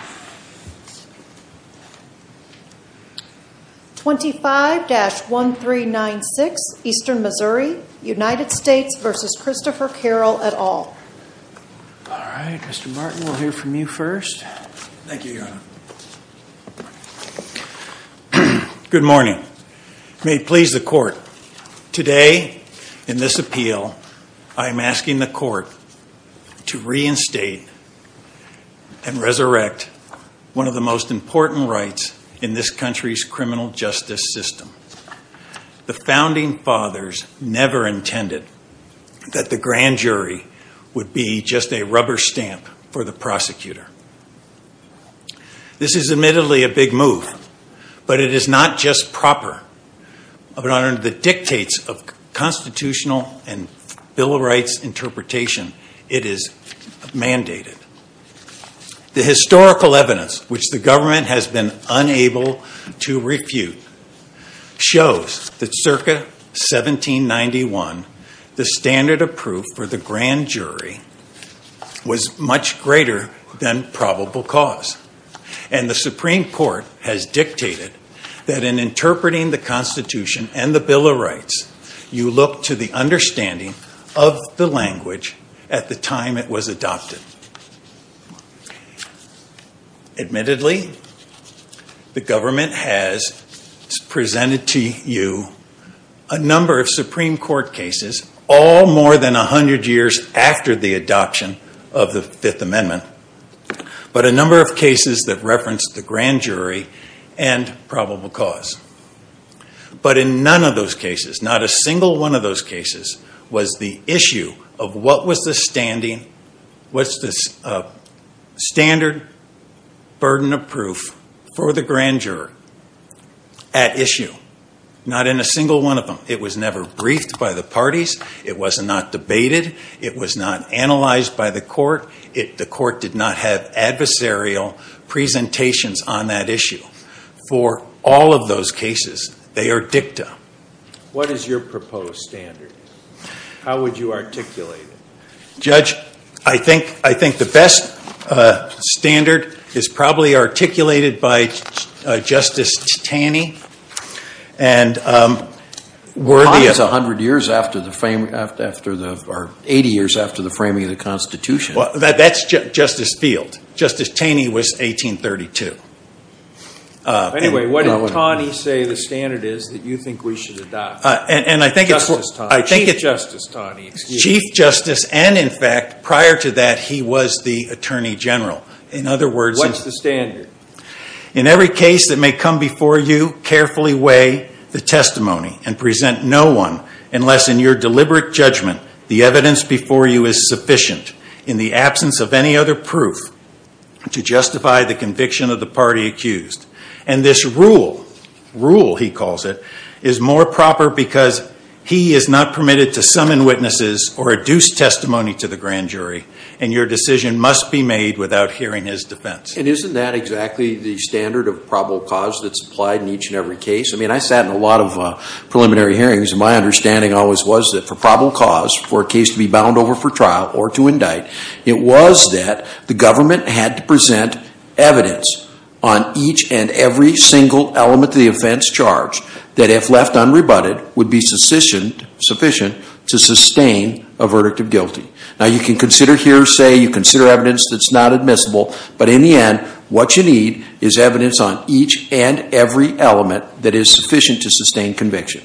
Good morning. May it please the Court, today, in this appeal, I am asking the Court to reinstate and resurrect one of the most important rights in this country's criminal justice system. The Founding Fathers never intended that the grand jury would be just a rubber stamp for the prosecutor. This is admittedly a big move, but it is not just proper, but under the dictates of constitutional and Bill of Rights interpretation, it is mandated. The historical evidence, which the government has been unable to refute, shows that circa 1791, the standard of proof for the grand jury was much greater than probable cause. And the Supreme Court has dictated that in interpreting the Constitution and the Bill of Rights, you look to the understanding of the language at the time it was adopted. Admittedly, the government has presented to you a number of Supreme Court cases, all more than a hundred years after the adoption of the Fifth Amendment, but a number of cases that reference the grand jury and probable cause. But in none of those cases, not a single one of those cases, was the issue of what was the standard burden of proof for the grand juror at issue. Not in a single one of them. It was never briefed by the parties. It was not debated. It was not analyzed by the court. The court did not have adversarial presentations on that issue. For all of those cases, they are dicta. What is your proposed standard? How would you articulate it? Judge, I think the best standard is probably articulated by Justice Taney. And were the- Time is a hundred years after the frame, or 80 years after the framing of the Constitution. That's Justice Field. Justice Taney was 1832. Anyway, what did Taney say the standard is that you think we should adopt? And I think it's- Chief Justice Taney, excuse me. Chief Justice, and in fact, prior to that, he was the Attorney General. In other words- What's the standard? In every case that may come before you, carefully weigh the testimony and present no one, unless in your deliberate judgment, the evidence before you is sufficient. In the absence of any other proof to justify the conviction of the party accused. And this rule, rule he calls it, is more proper because he is not permitted to summon witnesses or adduce testimony to the grand jury. And your decision must be made without hearing his defense. And isn't that exactly the standard of probable cause that's applied in each and every case? I mean, I sat in a lot of preliminary hearings, and my understanding always was that for probable cause, for a case to be bound over for trial or to indict, it was that the government had to present evidence on each and every single element of the offense charged that if left unrebutted would be sufficient to sustain a verdict of guilty. Now you can consider hearsay, you consider evidence that's not admissible, but in the end, what you need is evidence on each and every element that is sufficient to sustain conviction.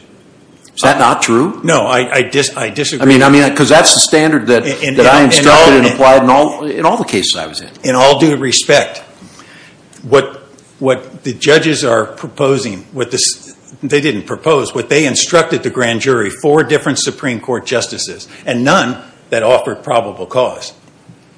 Is that not true? No, I disagree. I mean, because that's the standard that I instructed and applied in all the cases I was in. In all due respect, what the judges are proposing, what they didn't propose, what they instructed the grand jury, four different Supreme Court justices, and none that offered probable cause.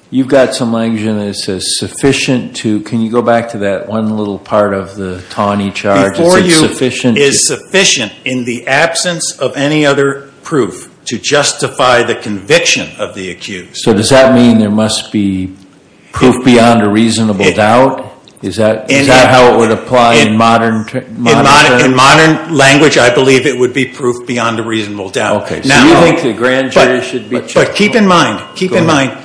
You've got some language in there that says sufficient to, can you go back to that one little part of the Taney charge that says sufficient to? Is sufficient in the absence of any other proof to justify the conviction of the accused. So does that mean there must be proof beyond a reasonable doubt? Is that how it would apply in modern terms? In modern language, I believe it would be proof beyond a reasonable doubt. Okay, so you think the grand jury should be checked? But keep in mind, keep in mind,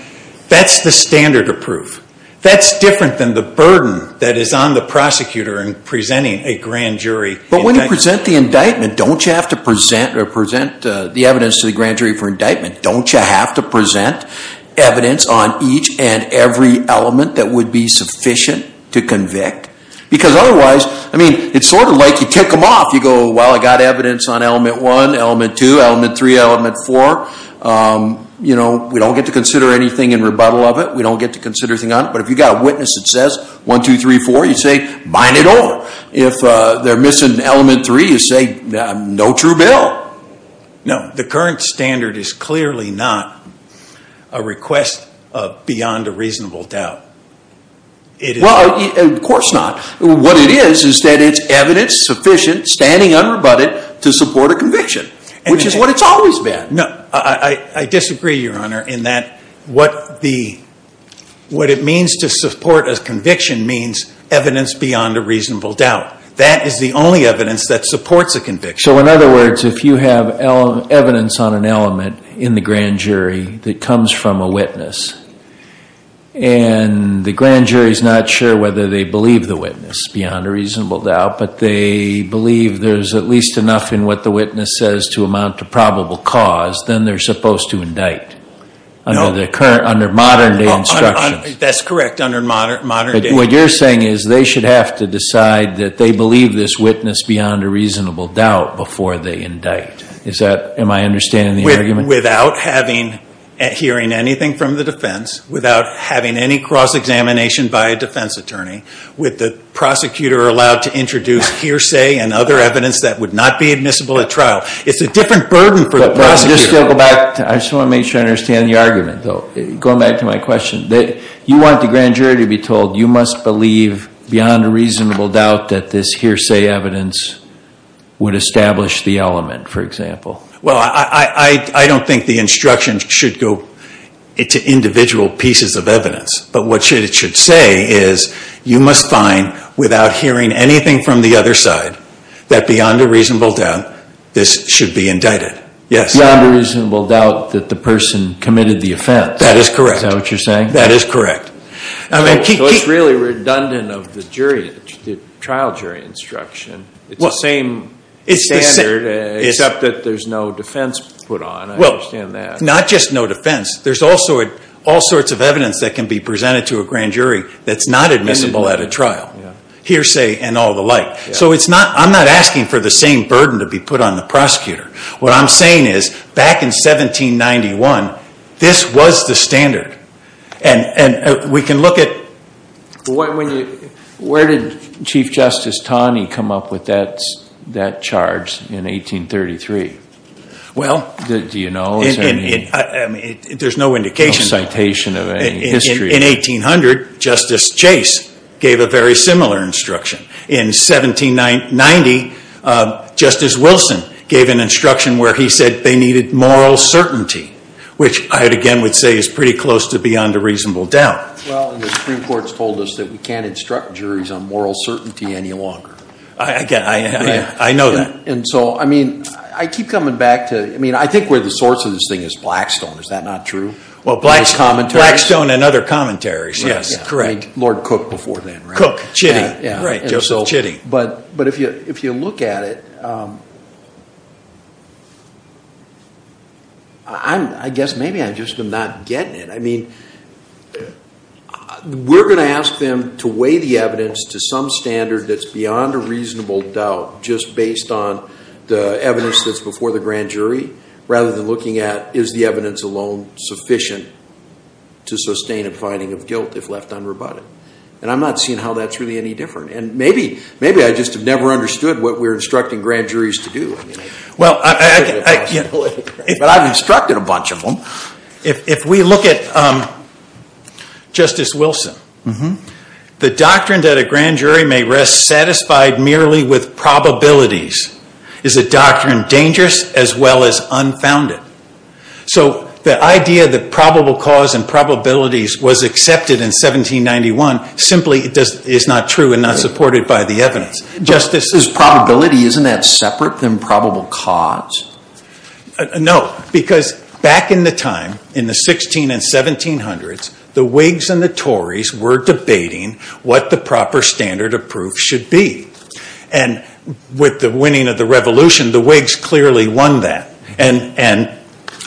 that's the standard of proof. That's different than the burden that is on the prosecutor in presenting a grand jury. But when you present the indictment, don't you have to present, or present the evidence to the grand jury for indictment, don't you have to present evidence on each and every element that would be sufficient to convict? Because otherwise, I mean, it's sort of like you tick them off. You go, well, I got evidence on element one, element two, element three, element four. You know, we don't get to consider anything in rebuttal of it. We don't get to consider anything on it. But if you've got a witness that says one, two, three, four, you say bind it all. If they're missing element three, you say no true bill. No. The current standard is clearly not a request beyond a reasonable doubt. Well, of course not. What it is, is that it's evidence sufficient, standing unrebutted, to support a conviction, which is what it's always been. I disagree, Your Honor, in that what it means to support a conviction means evidence beyond a reasonable doubt. That is the only evidence that supports a conviction. So in other words, if you have evidence on an element in the grand jury that comes from a witness, and the grand jury's not sure whether they believe the witness beyond a reasonable doubt, but they believe there's at least enough in what the witness says to amount to probable cause, then they're supposed to indict under modern day instruction. That's correct, under modern day. But what you're saying is they should have to decide that they believe this witness beyond a reasonable doubt before they indict. Is that, am I understanding the argument? Without having, hearing anything from the defense, without having any cross examination by a defense attorney, with the prosecutor allowed to introduce hearsay and other evidence that would not be admissible at trial. It's a different burden for the prosecutor. I just want to make sure I understand the argument, though. Going back to my question, you want the grand jury to be told, you must believe beyond a reasonable doubt that this hearsay evidence would establish the element, for example. Well, I don't think the instructions should go to individual pieces of evidence. But what it should say is, you must find, without hearing anything from the other side, that beyond a reasonable doubt, this should be indicted. Yes. Beyond a reasonable doubt that the person committed the offense. Is that what you're saying? That is correct. So it's really redundant of the trial jury instruction. It's the same standard, except that there's no defense put on, I understand that. Not just no defense, there's also all sorts of evidence that can be presented to a grand jury that's not admissible at a trial. Hearsay and all the like. So I'm not asking for the same burden to be put on the prosecutor. What I'm saying is, back in 1791, this was the standard. And we can look at- Where did Chief Justice Taney come up with that charge in 1833? Well- Do you know? I mean, there's no indication- No citation of any history. In 1800, Justice Chase gave a very similar instruction. In 1790, Justice Wilson gave an instruction where he said they needed moral certainty. Which I, again, would say is pretty close to beyond a reasonable doubt. Well, and the Supreme Court's told us that we can't instruct juries on moral certainty any longer. Again, I know that. And so, I mean, I keep coming back to, I mean, I think where the source of this thing is Blackstone, is that not true? Well, Blackstone and other commentaries, yes, correct. Lord Cook before then, right? Cook, Chitty. Right, Joseph Chitty. But if you look at it, I guess maybe I've just been not getting it. I mean, we're going to ask them to weigh the evidence to some standard that's beyond a reasonable doubt, just based on the evidence that's before the grand jury, rather than looking at, is the evidence alone sufficient to sustain a finding of guilt if left unrebutted? And I'm not seeing how that's really any different. And maybe, maybe I just have never understood what we're instructing grand juries to do. Well, I, you know, but I've instructed a bunch of them. If we look at Justice Wilson, the doctrine that a grand jury may rest satisfied merely with probabilities is a doctrine dangerous as well as unfounded. So the idea that probable cause and probabilities was accepted in 1791 simply is not true and not supported by the evidence. Is probability, isn't that separate than probable cause? No, because back in the time, in the 16 and 1700s, the Whigs and the Tories were debating what the proper standard of proof should be. And with the winning of the revolution, the Whigs clearly won that. And, and,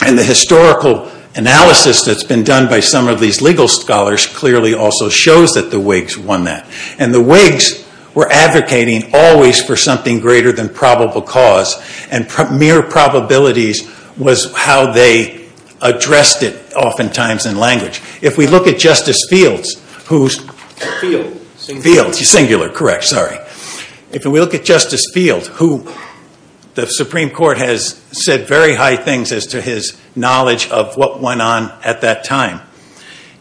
and the historical analysis that's been done by some of these legal scholars clearly also shows that the Whigs won that. And the Whigs were advocating always for something greater than probable cause and mere probabilities was how they addressed it oftentimes in language. If we look at Justice Fields, who's, Fields, singular, correct, sorry. If we look at Justice Fields, who the Supreme Court has said very high things as to his knowledge of what went on at that time,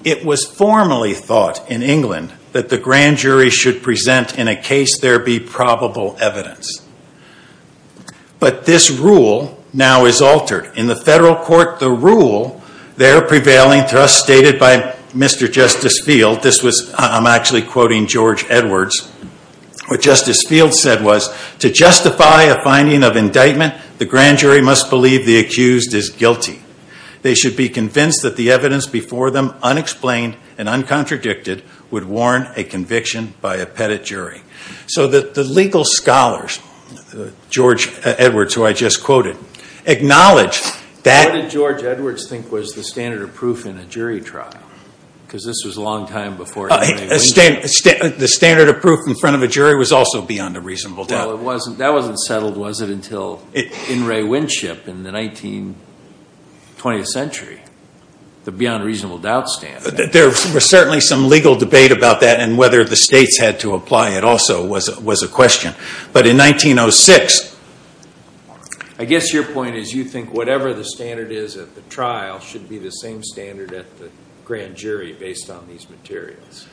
it was formally thought in England that the grand jury should present in a case there be probable evidence. But this rule now is altered. In the federal court, the rule there prevailing to us stated by Mr. Justice Field, this was, I'm actually quoting George Edwards, what Justice Fields said was, to justify a finding of indictment, the grand jury must believe the accused is guilty. They should be convinced that the evidence before them, unexplained and uncontradicted, would warn a conviction by a pettit jury. So that the legal scholars, George Edwards, who I just quoted, acknowledged that. What did George Edwards think was the standard of proof in a jury trial? Because this was a long time before. The standard of proof in front of a jury was also beyond a reasonable doubt. Well, it wasn't, that wasn't settled, was it, until In re Winship in the 19, 20th century, the beyond reasonable doubt standard. There was certainly some legal debate about that and whether the states had to apply it also was a question. But in 1906, I guess your point is you think whatever the standard is at the trial should be the same standard at the grand jury based on these materials.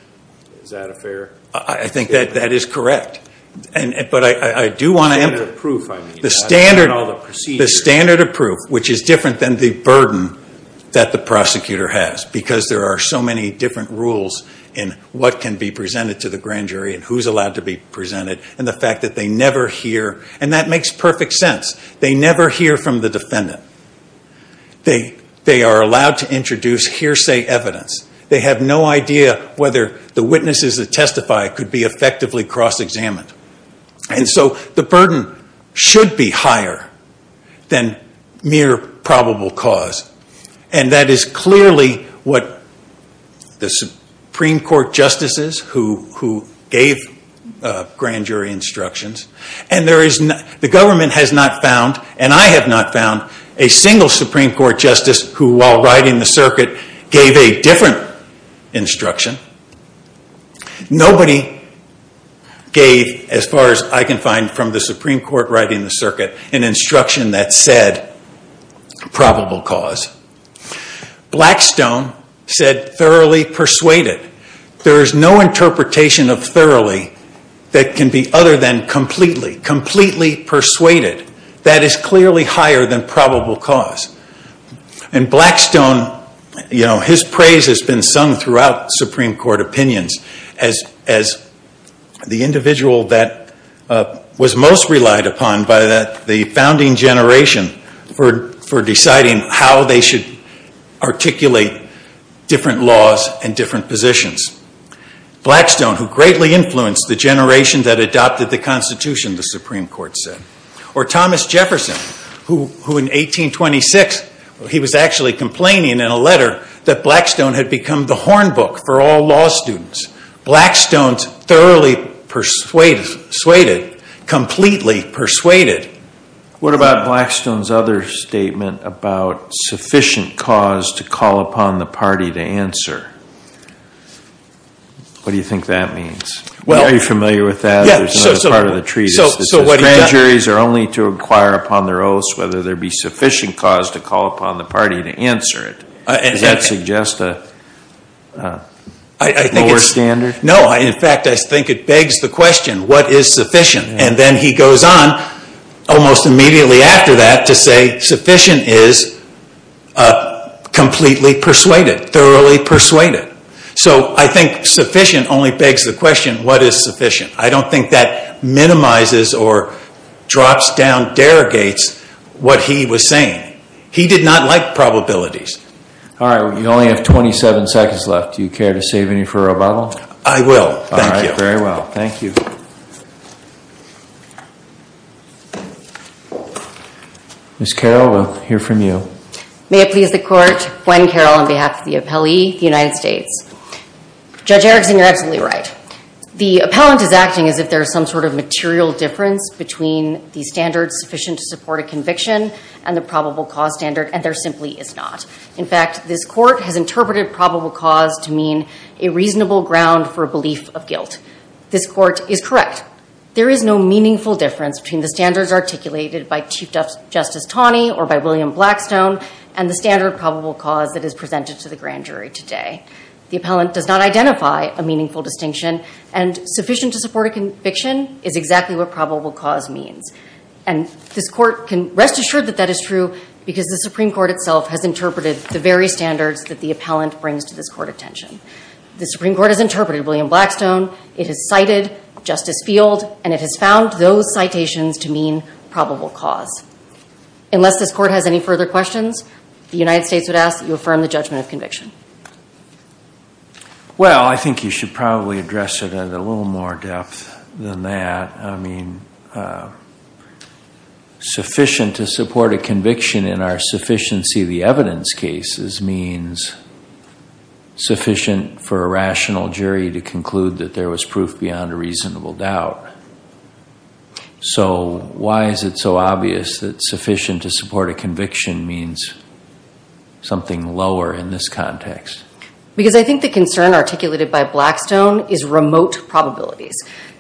Is that a fair? I think that that is correct. And, but I, I do want to. The standard of proof, I mean. The standard. And all the procedures. The standard of proof, which is different than the burden that the prosecutor has. Because there are so many different rules in what can be presented to the grand jury and who's allowed to be presented and the fact that they never hear. And that makes perfect sense. They never hear from the defendant. They, they are allowed to introduce hearsay evidence. They have no idea whether the witnesses that testify could be effectively cross-examined. And so the burden should be higher than mere probable cause. And that is clearly what the Supreme Court justices who, who gave grand jury instructions. And there is, the government has not found, and I have not found, a single Supreme Court justice who, while riding the circuit, gave a different instruction. Nobody gave, as far as I can find from the Supreme Court riding the circuit, an instruction that said probable cause. Blackstone said thoroughly persuaded. There is no interpretation of thoroughly that can be other than completely. Completely persuaded. That is clearly higher than probable cause. And Blackstone, you know, his praise has been sung throughout Supreme Court opinions as, as the individual that was most relied upon by the, the founding generation for, for deciding how they should articulate different laws and different positions. Blackstone, who greatly influenced the generation that adopted the Constitution, the Supreme Court said. Or Thomas Jefferson, who, who in 1826, he was actually complaining in a letter that Blackstone had become the horn book for all law students. Blackstone's thoroughly persuaded, completely persuaded. What about Blackstone's other statement about sufficient cause to call upon the party to answer? What do you think that means? Well. Are you familiar with that? Yeah, so, so. There's another part of the treatise that says grand juries are only to inquire upon their oaths whether there be sufficient cause to call upon the party to answer it. Does that suggest a lower standard? No, in fact, I think it begs the question, what is sufficient? And then he goes on, almost immediately after that, to say sufficient is completely persuaded, thoroughly persuaded. So I think sufficient only begs the question, what is sufficient? I don't think that minimizes or drops down, derogates what he was saying. He did not like probabilities. All right, well, you only have 27 seconds left. Do you care to save any for a rebuttal? I will, thank you. All right, very well, thank you. Ms. Carroll, we'll hear from you. May it please the court, Gwen Carroll on behalf of the appellee, the United States. Judge Erickson, you're absolutely right. The appellant is acting as if there's some sort of material difference between the standards sufficient to support a conviction and the probable cause standard, and there simply is not. In fact, this court has interpreted probable cause to mean a reasonable ground for a belief of guilt. This court is correct. There is no meaningful difference between the standards articulated by Chief Justice Taney or by William Blackstone and the standard probable cause that is presented to the grand jury today. The appellant does not identify a meaningful distinction. And sufficient to support a conviction is exactly what probable cause means. And this court can rest assured that that is true because the Supreme Court itself has interpreted the very standards that the appellant brings to this court attention. The Supreme Court has interpreted William Blackstone. It has cited Justice Field, and it has found those citations to mean probable cause. Unless this court has any further questions, the United States would ask that you affirm the judgment of conviction. Well, I think you should probably address it in a little more depth than that. I mean, sufficient to support a conviction in our sufficiency of the evidence cases means sufficient for a rational jury to conclude that there was proof beyond a reasonable doubt. So why is it so obvious that sufficient to support a conviction means something lower in this context? Because I think the concern articulated by Blackstone is remote probabilities.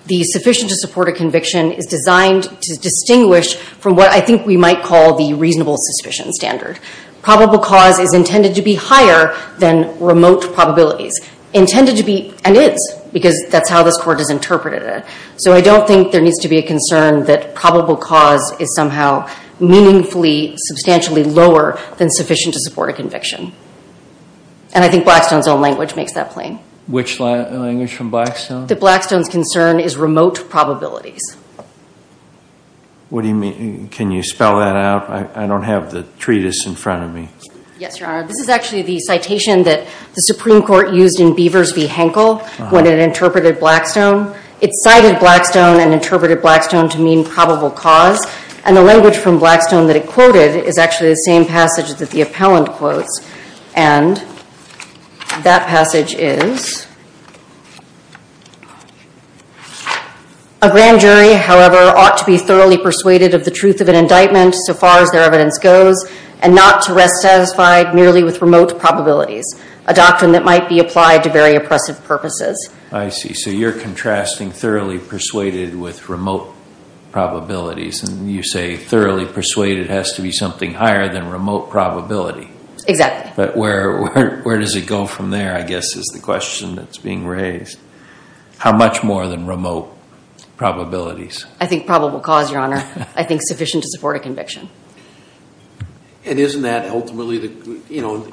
The sufficient to support a conviction is designed to distinguish from what I think we might call the reasonable suspicion standard. Probable cause is intended to be higher than remote probabilities. Intended to be, and is, because that's how this court has interpreted it. So I don't think there needs to be a concern that probable cause is somehow meaningfully, substantially lower than sufficient to support a conviction. And I think Blackstone's own language makes that plain. Which language from Blackstone? That Blackstone's concern is remote probabilities. What do you mean? Can you spell that out? I don't have the treatise in front of me. Yes, Your Honor. This is actually the citation that the Supreme Court used in Beavers v. Henkel when it interpreted Blackstone. It cited Blackstone and interpreted Blackstone to mean probable cause. And the language from Blackstone that it quoted is actually the same passage that the appellant quotes. And that passage is, a grand jury, however, ought to be thoroughly persuaded of the truth of an indictment so far as their evidence goes and not to rest satisfied merely with remote probabilities, a doctrine that might be applied to very oppressive purposes. I see. So you're contrasting thoroughly persuaded with remote probabilities. And you say thoroughly persuaded has to be something higher than remote probability. Exactly. But where does it go from there, I guess, is the question that's being raised. How much more than remote probabilities? I think probable cause, Your Honor. I think sufficient to support a conviction. And isn't that ultimately the, you know,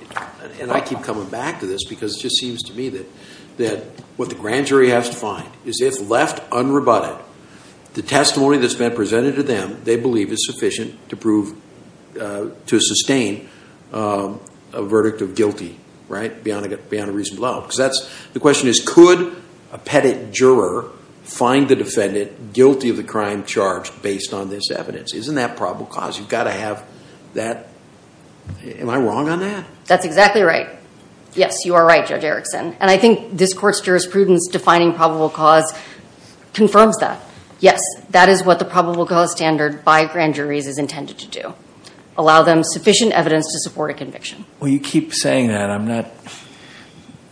and I keep coming back to this because it just seems to me that what the grand jury has to find is if left unrebutted, the testimony that's been presented to them, they believe is sufficient to prove, to sustain a verdict of guilty, right? Beyond a reasonable doubt. Because that's, the question is, could a pettit juror find the defendant guilty of the crime charged based on this evidence? Isn't that probable cause? You've got to have that, am I wrong on that? That's exactly right. Yes, you are right, Judge Erickson. And I think this court's jurisprudence defining probable cause confirms that. Yes, that is what the probable cause standard by grand juries is intended to do. Allow them sufficient evidence to support a conviction. Well, you keep saying that. I'm not,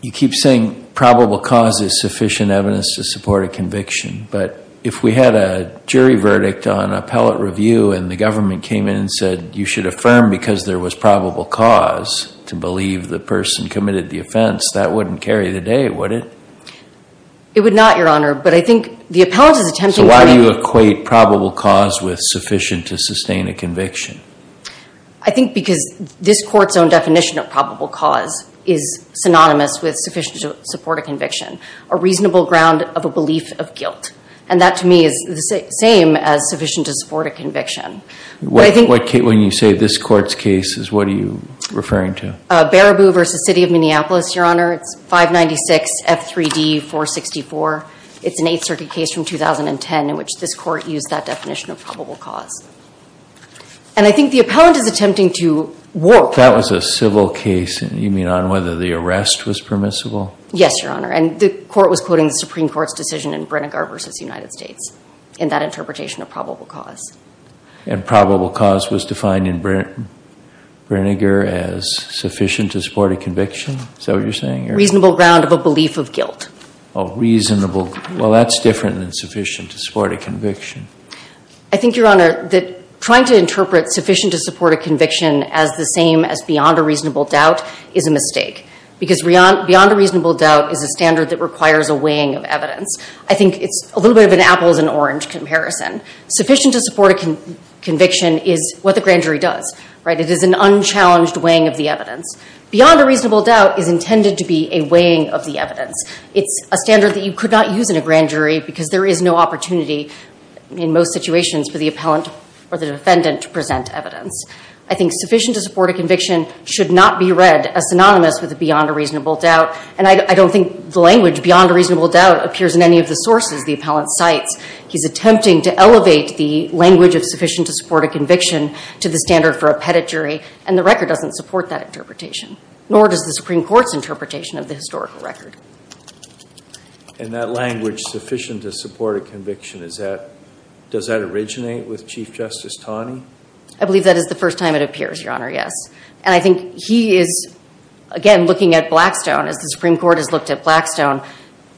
you keep saying probable cause is sufficient evidence to support a conviction. But if we had a jury verdict on appellate review and the government came in and said, you should affirm because there was probable cause to believe the person committed the offense, that wouldn't carry the day, would it? It would not, Your Honor. But I think the appellate is attempting to- So why do you equate probable cause with sufficient to sustain a conviction? I think because this court's own definition of probable cause is synonymous with sufficient to support a conviction. A reasonable ground of a belief of guilt. And that, to me, is the same as sufficient to support a conviction. When you say this court's case, what are you referring to? Baraboo v. City of Minneapolis, Your Honor. It's 596 F3D 464. It's an Eighth Circuit case from 2010 in which this court used that definition of probable cause. And I think the appellant is attempting to work- If that was a civil case, you mean on whether the arrest was permissible? Yes, Your Honor. And the court was quoting the Supreme Court's decision in Brinegar v. United States in that interpretation of probable cause. And probable cause was defined in Brinegar as sufficient to support a conviction? Is that what you're saying? Reasonable ground of a belief of guilt. Oh, reasonable. Well, that's different than sufficient to support a conviction. I think, Your Honor, that trying to interpret sufficient to support a conviction as the same as beyond a reasonable doubt is a mistake. Because beyond a reasonable doubt is a standard that requires a weighing of evidence. I think it's a little bit of an apples and orange comparison. Sufficient to support a conviction is what the grand jury does, right? It is an unchallenged weighing of the evidence. Beyond a reasonable doubt is intended to be a weighing of the evidence. It's a standard that you could not use in a grand jury because there is no opportunity in most situations for the appellant or the defendant to present evidence. I think sufficient to support a conviction should not be read as synonymous with beyond a reasonable doubt. And I don't think the language beyond a reasonable doubt appears in any of the sources the appellant cites. He's attempting to elevate the language of sufficient to support a conviction to the standard for a pettit jury. And the record doesn't support that interpretation. Nor does the Supreme Court's interpretation of the historical record. And that language, sufficient to support a conviction, does that originate with Chief Justice Taney? I believe that is the first time it appears, Your Honor, yes. And I think he is, again, looking at Blackstone, as the Supreme Court has looked at Blackstone,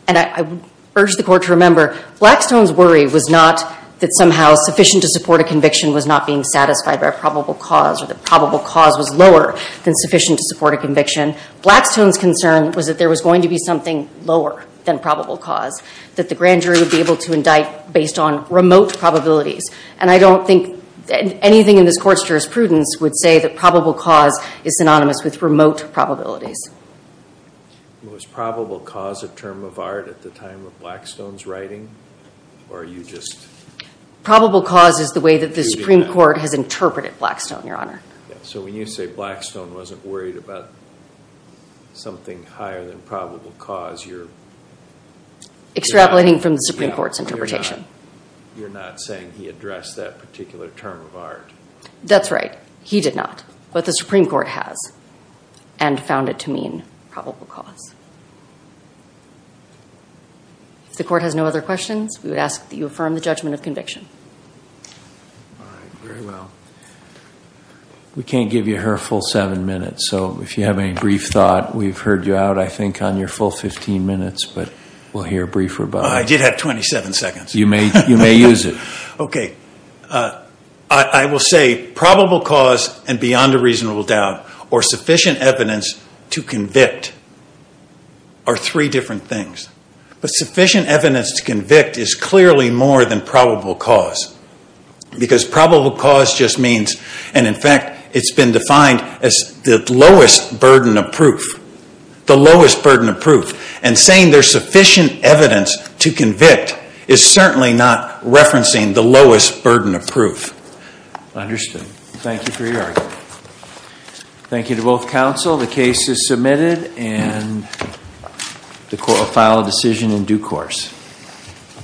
and I urge the Court to remember, Blackstone's worry was not that somehow sufficient to support a conviction was not being satisfied by a probable cause, or that probable cause was lower than sufficient to support a conviction. Blackstone's concern was that there was going to be something lower than probable cause, that the grand jury would be able to indict based on remote probabilities. And I don't think anything in this Court's jurisprudence would say that probable cause is synonymous with remote probabilities. Was probable cause a term of art at the time of Blackstone's writing? Or are you just... Probable cause is the way that the Supreme Court has interpreted Blackstone, Your Honor. So when you say Blackstone wasn't worried about something higher than probable cause, you're... Extrapolating from the Supreme Court's interpretation. You're not saying he addressed that particular term of art. That's right. He did not. But the Supreme Court has. And found it to mean probable cause. If the Court has no other questions, we would ask that you affirm the judgment of conviction. All right. Very well. We can't give you her full seven minutes. So if you have any brief thought, we've heard you out, I think, on your full 15 minutes. But we'll hear a brief rebuttal. I did have 27 seconds. You may use it. Okay. I will say probable cause and beyond a reasonable doubt, or sufficient evidence to convict are three different things. But sufficient evidence to convict is clearly more than probable cause. Because probable cause just means, and in fact, it's been defined as the lowest burden of proof. The lowest burden of proof. And saying there's sufficient evidence to convict is certainly not referencing the lowest burden of proof. Understood. Thank you for your argument. Thank you to both counsel. The case is submitted and the court will file a decision in due course.